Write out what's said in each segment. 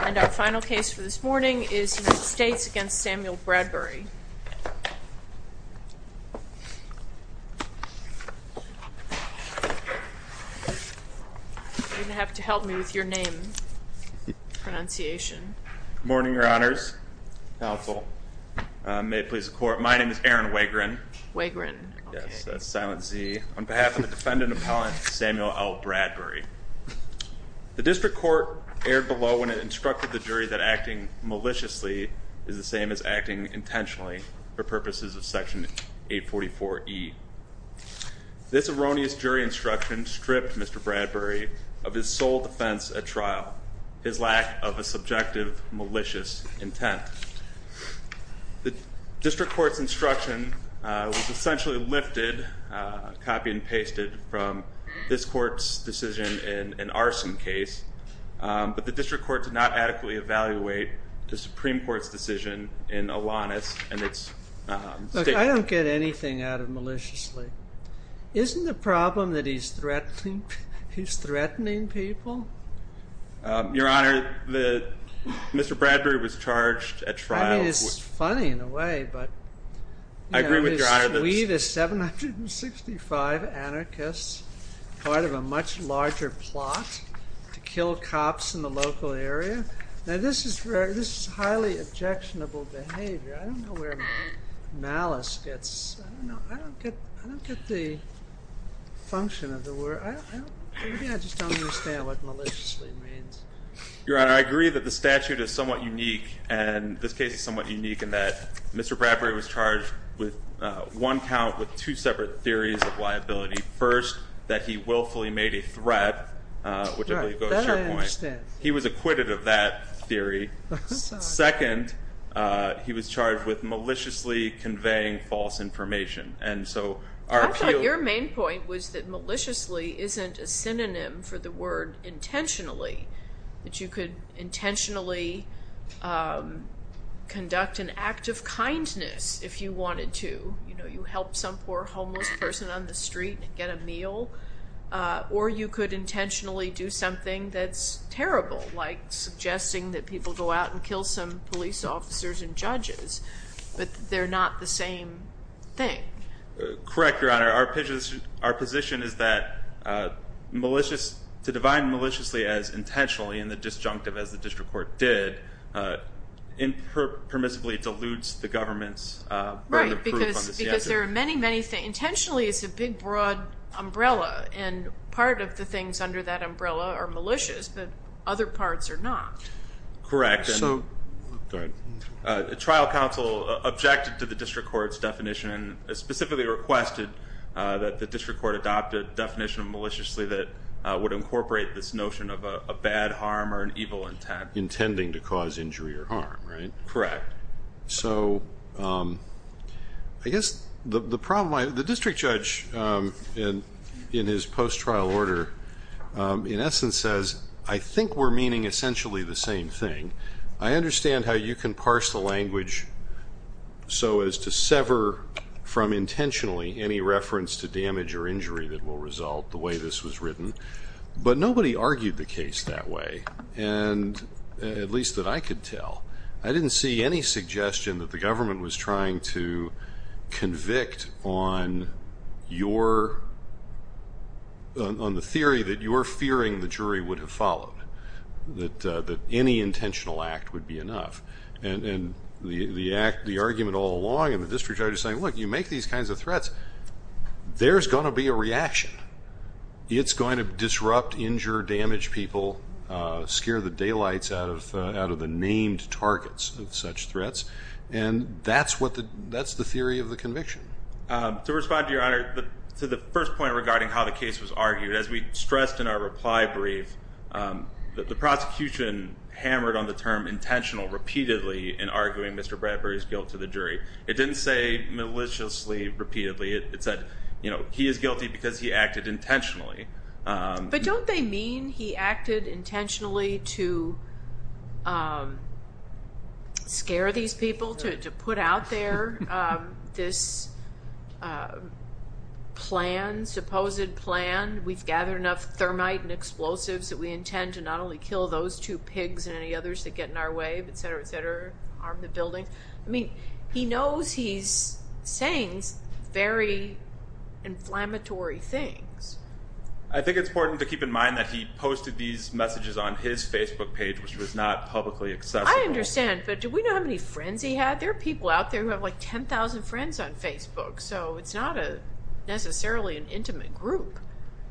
And our final case for this morning is United States v. Samuel Bradbury. You're going to have to help me with your name pronunciation. Good morning, your honors, counsel. May it please the court, my name is Aaron Wegrin. Wegrin. Yes, that's silent Z. On behalf of the defendant appellant, Samuel L. Bradbury. The district court erred below when it instructed the jury that acting maliciously is the same as acting intentionally for purposes of section 844E. This erroneous jury instruction stripped Mr. Bradbury of his sole defense at trial, his lack of a subjective malicious intent. The district court's instruction was essentially lifted, copy and pasted, from this court's decision in an arson case. But the district court did not adequately evaluate the Supreme Court's decision in Alanis and its statement. Look, I don't get anything out of maliciously. Isn't the problem that he's threatening people? Your honor, Mr. Bradbury was charged at trial. I mean, it's funny in a way, but we the 765 anarchists, part of a much larger plot to kill cops in the local area. Now this is highly objectionable behavior. I don't know where malice gets, I don't get the function of the word. Maybe I just don't understand what maliciously means. Your honor, I agree that the statute is somewhat unique, and this case is somewhat unique in that Mr. Bradbury was charged with one count with two separate theories of liability. First, that he willfully made a threat, which I believe goes to your point. That I understand. He was acquitted of that theory. Second, he was charged with maliciously conveying false information. Your main point was that maliciously isn't a synonym for the word intentionally. That you could intentionally conduct an act of kindness if you wanted to. You help some poor homeless person on the street and get a meal. Or you could intentionally do something that's terrible, like suggesting that people go out and kill some police officers and judges. But they're not the same thing. Correct, your honor. Our position is that malicious, to define maliciously as intentionally in the disjunctive as the district court did, impermissibly deludes the government's burden of proof. Right, because there are many, many things. Intentionally is a big, broad umbrella, and part of the things under that umbrella are malicious, but other parts are not. Correct. Go ahead. Trial counsel objected to the district court's definition, specifically requested that the district court adopt a definition of maliciously that would incorporate this notion of a bad harm or an evil intent. Intending to cause injury or harm, right? Correct. So, I guess the problem, the district judge, in his post-trial order, in essence says, I think we're meaning essentially the same thing. I understand how you can parse the language so as to sever from intentionally any reference to damage or injury that will result the way this was written. But nobody argued the case that way, at least that I could tell. I didn't see any suggestion that the government was trying to convict on the theory that you're fearing the jury would have followed, that any intentional act would be enough. And the argument all along in the district judge is saying, look, you make these kinds of threats, there's going to be a reaction. It's going to disrupt, injure, damage people, scare the daylights out of the named targets of such threats. And that's the theory of the conviction. To respond to your honor, to the first point regarding how the case was argued, as we stressed in our reply brief, the prosecution hammered on the term intentional repeatedly in arguing Mr. Bradbury's guilt to the jury. It didn't say maliciously, repeatedly, it said he is guilty because he acted intentionally. But don't they mean he acted intentionally to scare these people, to put out there this plan, supposed plan, we've gathered enough thermite and explosives that we intend to not only kill those two pigs and any others that get in our way, etc., etc., I mean, he knows he's saying very inflammatory things. I think it's important to keep in mind that he posted these messages on his Facebook page, which was not publicly accessible. I understand. But do we know how many friends he had? There are people out there who have like 10,000 friends on Facebook. So it's not necessarily an intimate group.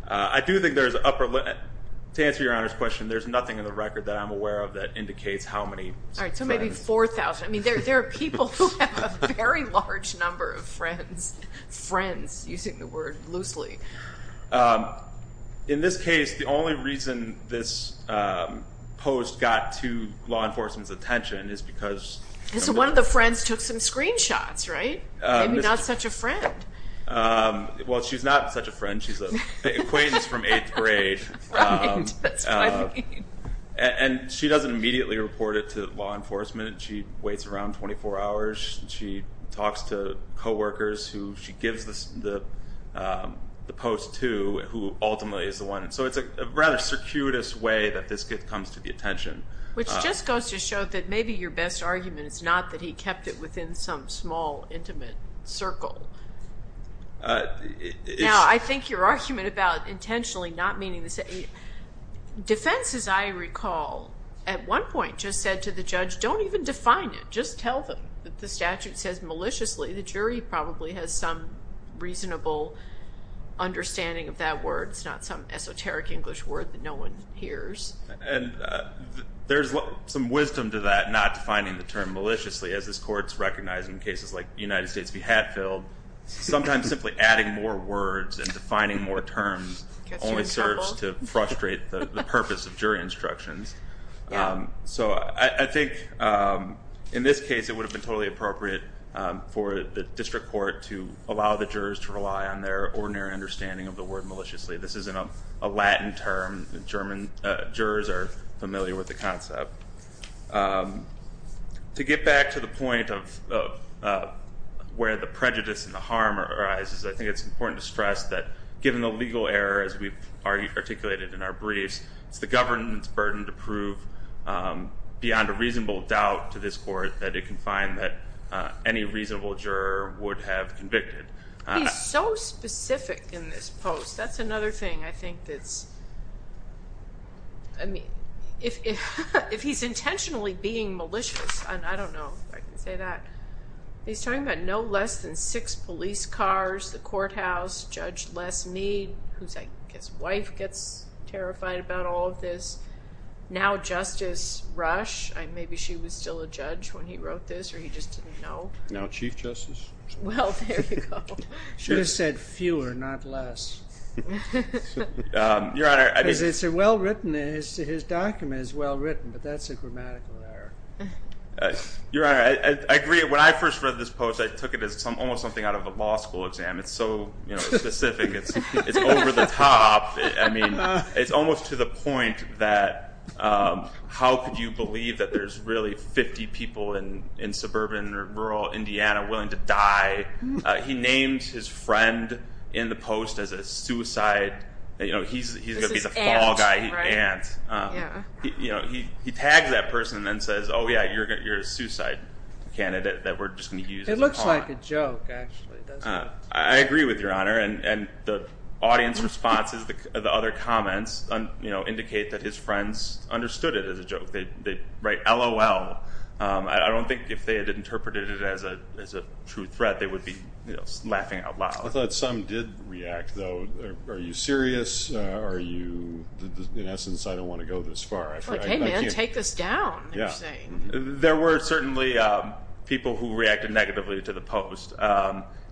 I do think there's upper limit. To answer your honor's question, there's nothing in the record that I'm aware of that indicates how many. All right, so maybe 4,000. I mean, there are people who have a very large number of friends, friends, using the word loosely. In this case, the only reason this post got to law enforcement's attention is because... So one of the friends took some screenshots, right? Maybe not such a friend. Well, she's not such a friend. She's an acquaintance from eighth grade. Right, that's what I mean. And she doesn't immediately report it to law enforcement. She waits around 24 hours. She talks to co-workers who she gives the post to, who ultimately is the one. So it's a rather circuitous way that this comes to the attention. Which just goes to show that maybe your best argument is not that he kept it within some small, intimate circle. Now, I think your argument about intentionally not meaning to say... Defense, as I recall, at one point just said to the judge, don't even define it. Just tell them that the statute says maliciously. The jury probably has some reasonable understanding of that word. It's not some esoteric English word that no one hears. And there's some wisdom to that, not defining the term maliciously. As this court's recognizing cases like United States v. Hatfield, sometimes simply adding more words and defining more terms only serves to frustrate the purpose of jury instructions. So I think in this case it would have been totally appropriate for the district court to allow the jurors to rely on their ordinary understanding of the word maliciously. This isn't a Latin term. Jurors are familiar with the concept. To get back to the point of where the prejudice and the harm arises, I think it's important to stress that given the legal error as we've articulated in our briefs, it's the government's burden to prove beyond a reasonable doubt to this court that it can find that any reasonable juror would have convicted. He's so specific in this post. That's another thing I think that's... I mean, if he's intentionally being malicious, I don't know if I can say that. He's talking about no less than six police cars, the courthouse, Judge Les Meade, whose wife gets terrified about all of this, now Justice Rush. Maybe she was still a judge when he wrote this or he just didn't know. Now Chief Justice. Well, there you go. Should have said fewer, not less. Your Honor, I mean... Because it's a well-written, his document is well-written, but that's a grammatical error. Your Honor, I agree. When I first read this post, I took it as almost something out of a law school exam. It's so specific. It's over the top. I mean, it's almost to the point that how could you believe that there's really 50 people in suburban or rural Indiana willing to die? He named his friend in the post as a suicide. He's going to be the fall guy. This is Ant, right? Ant. Yeah. He tags that person and then says, oh, yeah, you're a suicide candidate that we're just going to use as a pawn. It looks like a joke, actually, doesn't it? I agree with you, Your Honor, and the audience responses, the other comments, indicate that his friends understood it as a joke. They write, LOL. I don't think if they had interpreted it as a true threat they would be laughing out loud. I thought some did react, though. Are you serious? Are you, in essence, I don't want to go this far. Hey, man, take this down, you're saying. There were certainly people who reacted negatively to the post,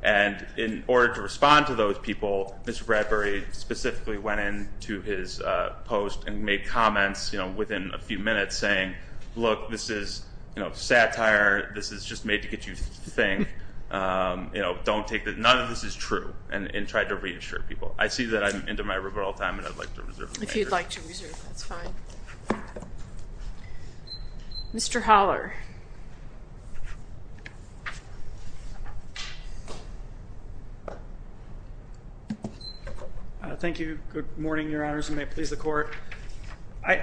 and in order to respond to those people, Mr. Bradbury specifically went into his post and made comments within a few minutes saying, look, this is satire. This is just made to get you to think. Don't take this. None of this is true, and tried to reassure people. I see that I'm into my rebuttal time, and I'd like to reserve it. If you'd like to reserve it, that's fine. Mr. Holler. Thank you. Good morning, Your Honors, and may it please the Court. How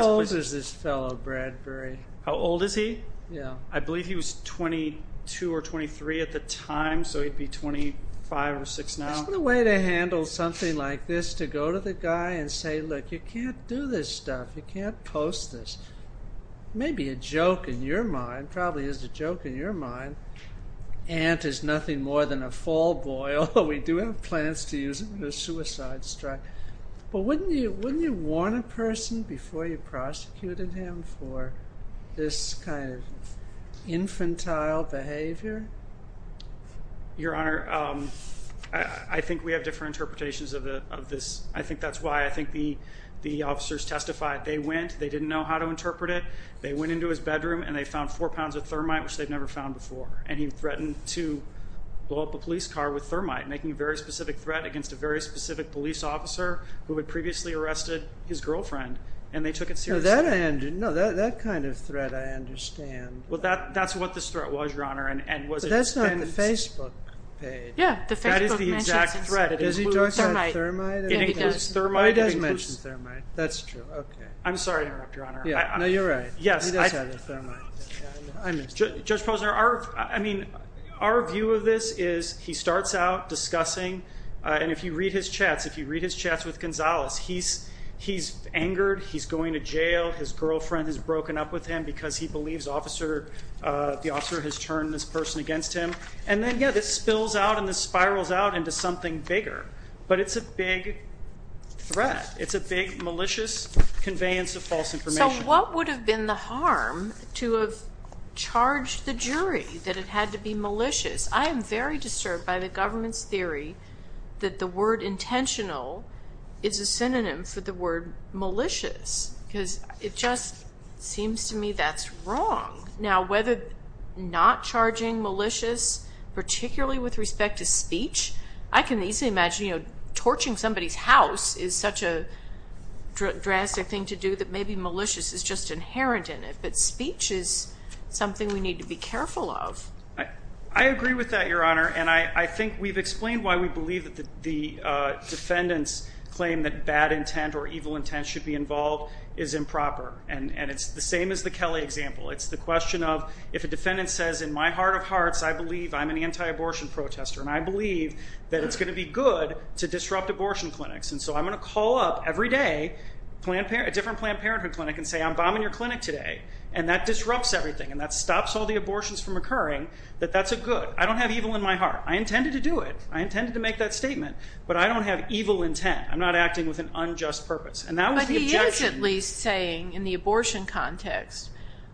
old is this fellow, Bradbury? How old is he? Yeah. I believe he was 22 or 23 at the time, so he'd be 25 or 26 now. Isn't there a way to handle something like this, to go to the guy and say, look, you can't do this stuff, you can't post this. It may be a joke in your mind, probably is a joke in your mind. Ant is nothing more than a fall boy. We do have plans to use him in a suicide strike. But wouldn't you warn a person before you prosecuted him for this kind of infantile behavior? Your Honor, I think we have different interpretations of this. I think that's why I think the officers testified. They went, they didn't know how to interpret it, they went into his bedroom, and they found four pounds of thermite, which they'd never found before. And he threatened to blow up a police car with thermite, making a very specific threat against a very specific police officer who had previously arrested his girlfriend, and they took it seriously. No, that kind of threat I understand. Well, that's what this threat was, Your Honor. But that's not the Facebook page. Yeah. That is the exact threat. Does he talk about thermite? It includes thermite. It does mention thermite. That's true. I'm sorry to interrupt, Your Honor. No, you're right. Yes. He does have the thermite. I missed that. Judge Posner, I mean, our view of this is he starts out discussing, and if you read his chats, if you read his chats with Gonzalez, he's angered, he's going to jail, his girlfriend has broken up with him because he believes the officer has turned this person against him. And then, yeah, this spills out and this spirals out into something bigger. But it's a big threat. It's a big malicious conveyance of false information. So what would have been the harm to have charged the jury that it had to be malicious? I am very disturbed by the government's theory that the word intentional is a synonym for the word malicious because it just seems to me that's wrong. Now, whether not charging malicious, particularly with respect to speech, I can easily imagine torching somebody's house is such a drastic thing to do that maybe malicious is just inherent in it. But speech is something we need to be careful of. I agree with that, Your Honor. And I think we've explained why we believe that the defendant's claim that bad intent or evil intent should be involved is improper. And it's the same as the Kelly example. It's the question of if a defendant says, in my heart of hearts, I believe I'm an anti-abortion protester and I believe that it's going to be good to disrupt abortion clinics. And so I'm going to call up every day a different Planned Parenthood clinic and say, I'm bombing your clinic today, and that disrupts everything and that stops all the abortions from occurring, that that's a good. I don't have evil in my heart. I intended to do it. I intended to make that statement. But I don't have evil intent. I'm not acting with an unjust purpose. And that was the objection. But he is at least saying in the abortion context,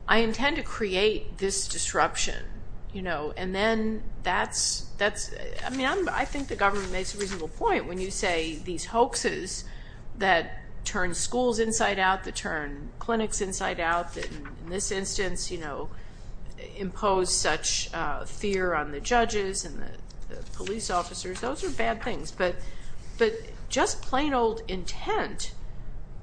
I intend to create this disruption. And then that's, I mean, I think the government makes a reasonable point when you say these hoaxes that turn schools inside out, that turn clinics inside out, that in this instance impose such fear on the judges and the police officers. Those are bad things. But just plain old intent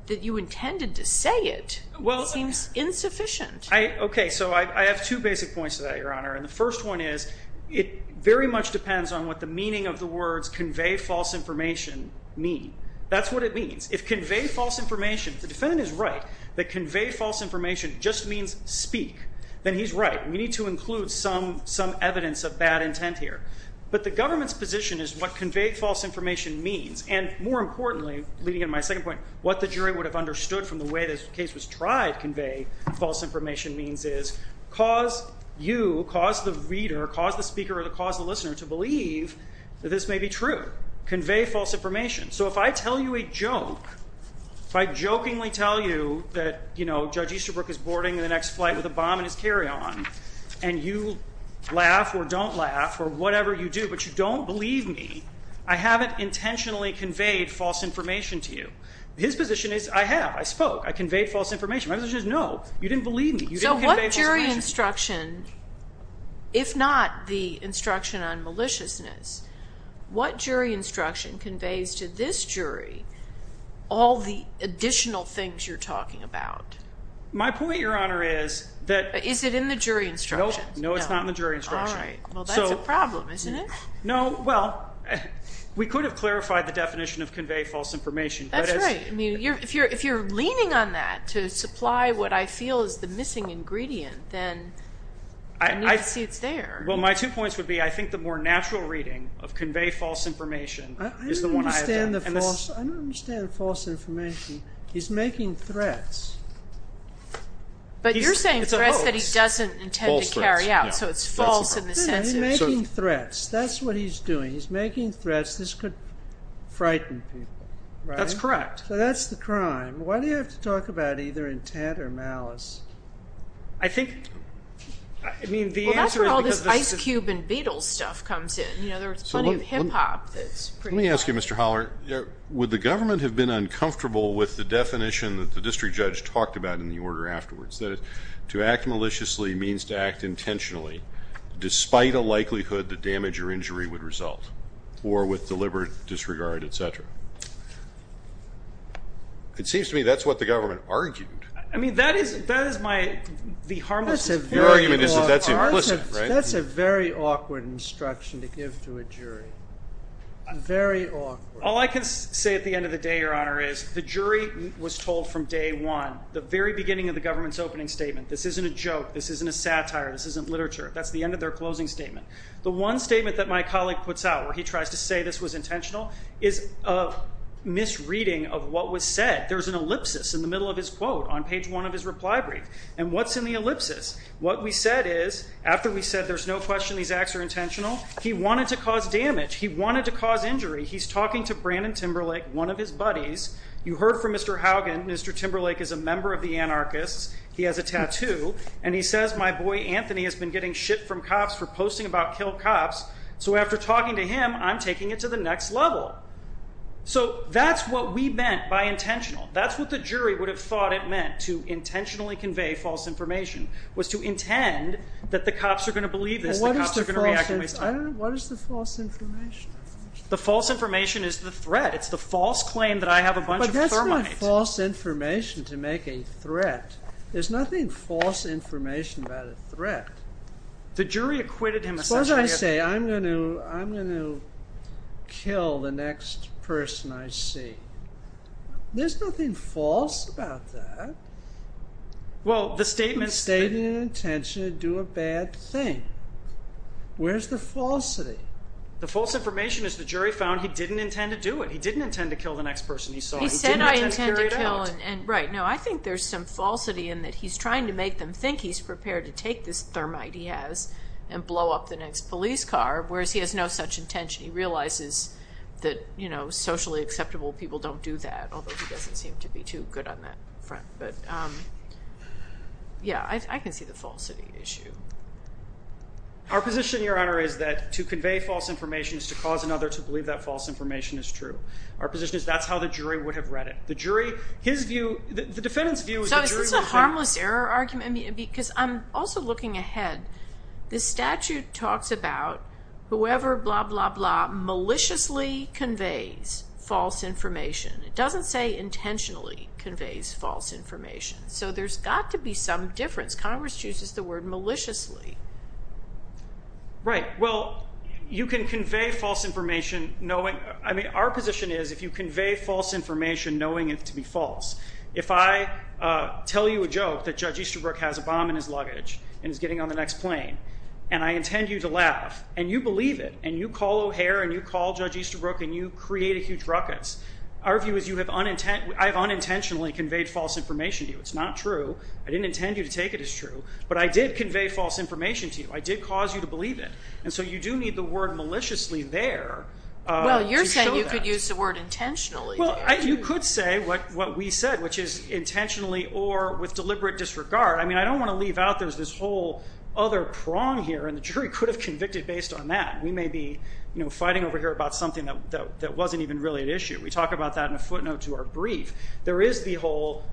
that you intended to say it seems insufficient. Okay. So I have two basic points to that, Your Honor. And the first one is it very much depends on what the meaning of the words convey false information mean. That's what it means. If convey false information, if the defendant is right, that convey false information just means speak, then he's right. We need to include some evidence of bad intent here. But the government's position is what convey false information means, and more importantly, leading into my second point, what the jury would have understood from the way this case was tried, what convey false information means is cause you, cause the reader, cause the speaker or cause the listener to believe that this may be true. Convey false information. So if I tell you a joke, if I jokingly tell you that, you know, Judge Easterbrook is boarding the next flight with a bomb in his carry-on and you laugh or don't laugh or whatever you do, but you don't believe me, I haven't intentionally conveyed false information to you. His position is I have. I spoke. I conveyed false information. My position is no. You didn't believe me. You didn't convey false information. So what jury instruction, if not the instruction on maliciousness, what jury instruction conveys to this jury all the additional things you're talking about? My point, Your Honor, is that. Is it in the jury instruction? Nope. No, it's not in the jury instruction. All right. Well, that's a problem, isn't it? No. Well, we could have clarified the definition of convey false information. That's right. If you're leaning on that to supply what I feel is the missing ingredient, then I need to see it's there. Well, my two points would be I think the more natural reading of convey false information is the one I have. I don't understand false information. He's making threats. But you're saying threats that he doesn't intend to carry out, so it's false in the sense of. He's making threats. That's what he's doing. He's making threats. This could frighten people. That's correct. So that's the crime. Why do you have to talk about either intent or malice? I think, I mean, the answer is because. Well, that's where all this Ice Cube and Beatles stuff comes in. You know, there's plenty of hip-hop that's pretty fun. Let me ask you, Mr. Holler, would the government have been uncomfortable with the definition that the district judge talked about in the order afterwards, that is to act maliciously means to act intentionally despite a likelihood the damage or injury would result or with deliberate disregard, et cetera? It seems to me that's what the government argued. I mean, that is my, the harmless. That's a very awkward instruction to give to a jury. Very awkward. All I can say at the end of the day, Your Honor, is the jury was told from day one, the very beginning of the government's opening statement, this isn't a joke, this isn't a satire, this isn't literature. That's the end of their closing statement. The one statement that my colleague puts out, where he tries to say this was intentional, is a misreading of what was said. There's an ellipsis in the middle of his quote on page one of his reply brief. And what's in the ellipsis? What we said is, after we said there's no question these acts are intentional, he wanted to cause damage. He wanted to cause injury. He's talking to Brandon Timberlake, one of his buddies. You heard from Mr. Haugen, Mr. Timberlake is a member of the anarchists. He has a tattoo. And he says, my boy Anthony has been getting shit from cops for posting about killed cops, so after talking to him, I'm taking it to the next level. So that's what we meant by intentional. That's what the jury would have thought it meant, to intentionally convey false information, was to intend that the cops are going to believe this, the cops are going to react the way they thought. What is the false information? The false information is the threat. It's the false claim that I have a bunch of thermite. But that's not false information to make a threat. There's nothing false information about a threat. The jury acquitted him essentially. Suppose I say, I'm going to kill the next person I see. There's nothing false about that. Well, the statement. Stating an intention to do a bad thing. Where's the falsity? The false information is the jury found he didn't intend to do it. He didn't intend to kill the next person he saw. He said, I intend to kill. He didn't intend to carry it out. Right. No, I think there's some falsity in that he's trying to make them think he's prepared to take this thermite he has and blow up the next police car, whereas he has no such intention. He realizes that socially acceptable people don't do that, although he doesn't seem to be too good on that front. But, yeah, I can see the falsity issue. Our position, Your Honor, is that to convey false information is to cause another to believe that false information is true. Our position is that's how the jury would have read it. The jury, his view, the defendant's view. So is this a harmless error argument? Because I'm also looking ahead. The statute talks about whoever blah, blah, blah, maliciously conveys false information. It doesn't say intentionally conveys false information. So there's got to be some difference. Congress chooses the word maliciously. Right. Well, you can convey false information knowing. Our position is if you convey false information knowing it to be false, if I tell you a joke that Judge Easterbrook has a bomb in his luggage and is getting on the next plane and I intend you to laugh and you believe it and you call O'Hare and you call Judge Easterbrook and you create a huge ruckus, our view is I have unintentionally conveyed false information to you. It's not true. I didn't intend you to take it as true. But I did convey false information to you. I did cause you to believe it. And so you do need the word maliciously there. Well, you're saying you could use the word intentionally. Well, you could say what we said, which is intentionally or with deliberate disregard. I mean, I don't want to leave out this whole other prong here, and the jury could have convicted based on that. We may be fighting over here about something that wasn't even really an issue. We talk about that in a footnote to our brief. There is the whole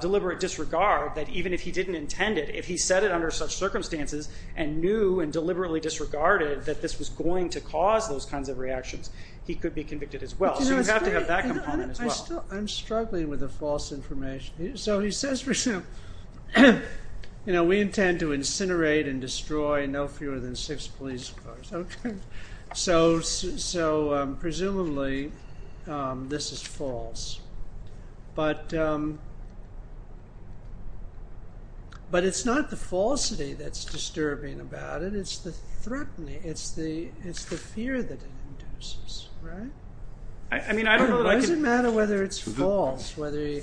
deliberate disregard that even if he didn't intend it, if he said it under such circumstances and knew and deliberately disregarded that this was going to cause those kinds of reactions, he could be convicted as well. So you have to have that component as well. I'm struggling with the false information. So he says, for example, we intend to incinerate and destroy no fewer than six police cars. So presumably this is false. But it's not the falsity that's disturbing about it. It's the threatening. It's the fear that it induces. Right? I mean, I don't know that I could. It doesn't matter whether it's false, whether you.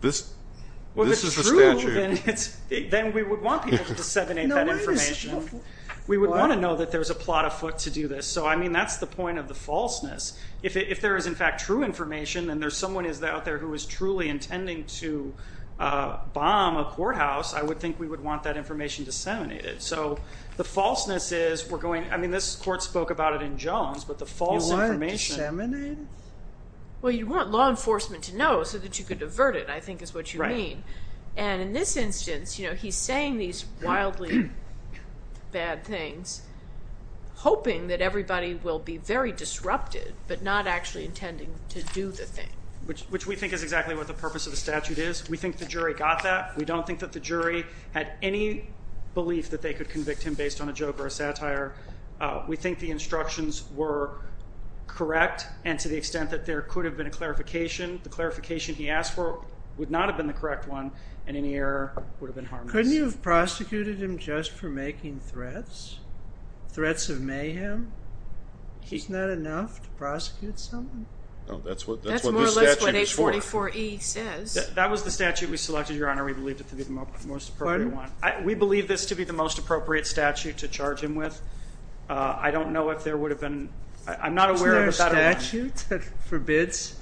This is the statute. Well, if it's true, then we would want people to disseminate that information. We would want to know that there's a plot afoot to do this. So, I mean, that's the point of the falseness. If there is, in fact, true information and there's someone out there who is truly intending to bomb a courthouse, I would think we would want that information disseminated. So the falseness is we're going. I mean, this court spoke about it in Jones, but the false information. You want it disseminated? Well, you want law enforcement to know so that you can divert it, I think, is what you mean. And in this instance, you know, he's saying these wildly bad things, hoping that everybody will be very disrupted, but not actually intending to do the thing. Which we think is exactly what the purpose of the statute is. We think the jury got that. We don't think that the jury had any belief that they could convict him based on a joke or a satire. We think the instructions were correct and to the extent that there could have been a clarification. The clarification he asked for would not have been the correct one, and any error would have been harmless. Couldn't you have prosecuted him just for making threats, threats of mayhem? Isn't that enough to prosecute someone? No, that's what this statute is for. That's more or less what 844E says. That was the statute we selected, Your Honor. We believed it to be the most appropriate one. We believe this to be the most appropriate statute to charge him with. I don't know if there would have been. Isn't there a statute that forbids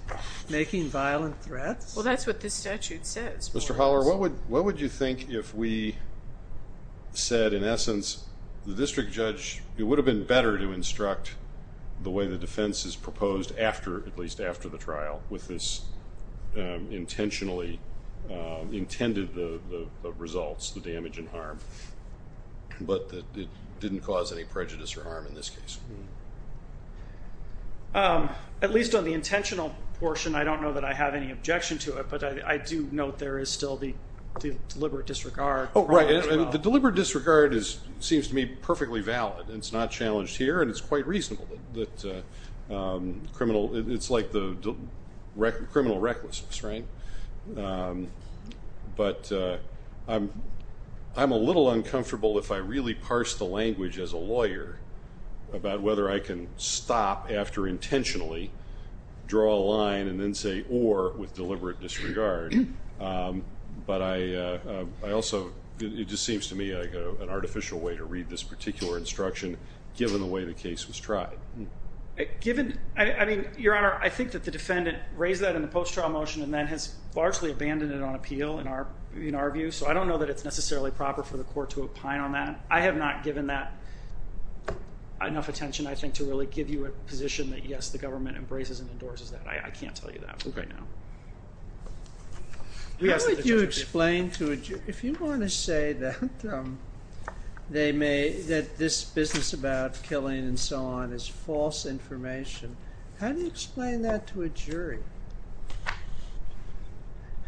making violent threats? Well, that's what this statute says. Mr. Holler, what would you think if we said, in essence, the district judge, it would have been better to instruct the way the defense is proposed after, at least after the trial, with this intentionally intended results, the damage and harm, but that it didn't cause any prejudice or harm in this case? At least on the intentional portion, I don't know that I have any objection to it, but I do note there is still the deliberate disregard. Oh, right. The deliberate disregard seems to me perfectly valid. It's not challenged here, and it's quite reasonable. It's like the criminal recklessness, right? But I'm a little uncomfortable if I really parse the language as a lawyer about whether I can stop after intentionally draw a line and then say or with deliberate disregard. But I also, it just seems to me like an artificial way to read this particular instruction, given the way the case was tried. Given, I mean, Your Honor, I think that the defendant raised that in the post-trial motion, and then has largely abandoned it on appeal in our view. So I don't know that it's necessarily proper for the court to opine on that. I have not given that enough attention, I think, to really give you a position that, yes, the government embraces and endorses that. I can't tell you that right now. How would you explain to a jury, if you want to say that this business about killing and so on is false information, how do you explain that to a jury?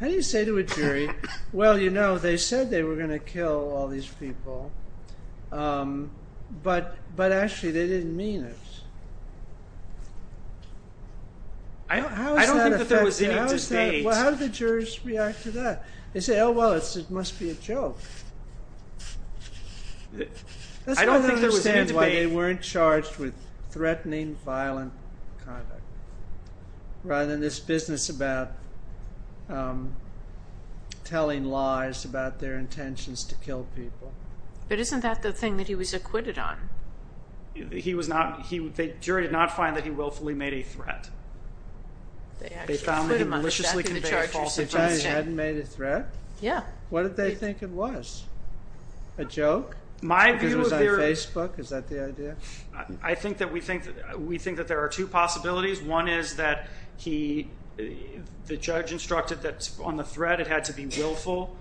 How do you say to a jury, well, you know, they said they were going to kill all these people, but actually they didn't mean it? I don't think that there was any debate. Well, how do the jurors react to that? They say, oh, well, it must be a joke. I don't think there was any debate. That's why they don't understand why they weren't charged with threatening violent conduct, rather than this business about telling lies about their intentions to kill people. But isn't that the thing that he was acquitted on? He was not, the jury did not find that he willfully made a threat. They found that he maliciously conveyed a false information. He hadn't made a threat? Yeah. What did they think it was? A joke? Because it was on Facebook? Is that the idea? I think that we think that there are two possibilities. One is that the judge instructed that on the threat it had to be willful,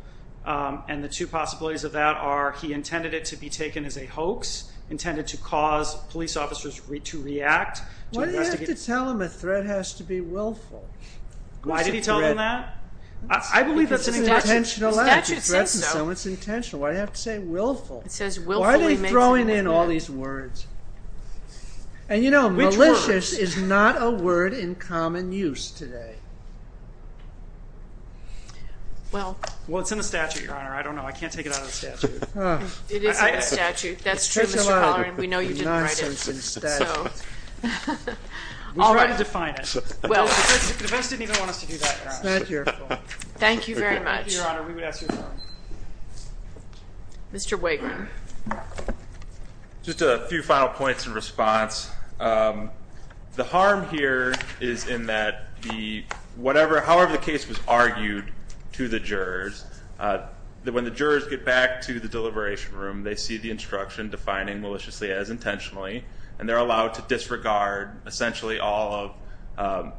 and the two possibilities of that are he intended it to be taken as a hoax, intended to cause police officers to react. Why did he have to tell them a threat has to be willful? Why did he tell them that? I believe that's an intentional act. If you threaten someone, it's intentional. Why do you have to say willful? Why are they throwing in all these words? And, you know, malicious is not a word in common use today. Well, it's in the statute, Your Honor. I don't know. I can't take it out of the statute. It is in the statute. That's true, Mr. Pollard. We know you didn't write it. Nonsense in the statute. We tried to define it. The defense didn't even want us to do that. It's not your fault. Thank you very much. Thank you, Your Honor. We would ask your pardon. Mr. Wagram. Just a few final points in response. The harm here is in that however the case was argued to the jurors, when the jurors get back to the deliberation room, they see the instruction defining maliciously as intentionally, and they're allowed to disregard essentially all of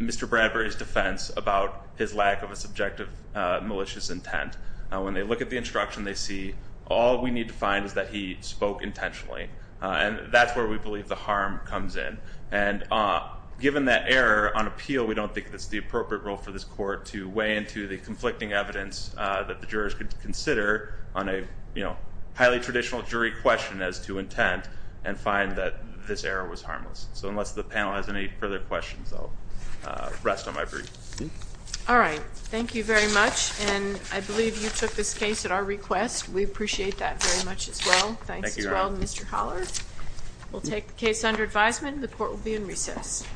Mr. Bradbury's defense about his lack of a subjective malicious intent. When they look at the instruction, they see all we need to find is that he spoke intentionally, and that's where we believe the harm comes in. And given that error on appeal, we don't think it's the appropriate role for this court to weigh into the conflicting evidence that the jurors could consider on a, you know, So unless the panel has any further questions, I'll rest on my brief. All right. Thank you very much. And I believe you took this case at our request. We appreciate that very much as well. Thanks as well, Mr. Holler. We'll take the case under advisement. The court will be in recess. Thank you.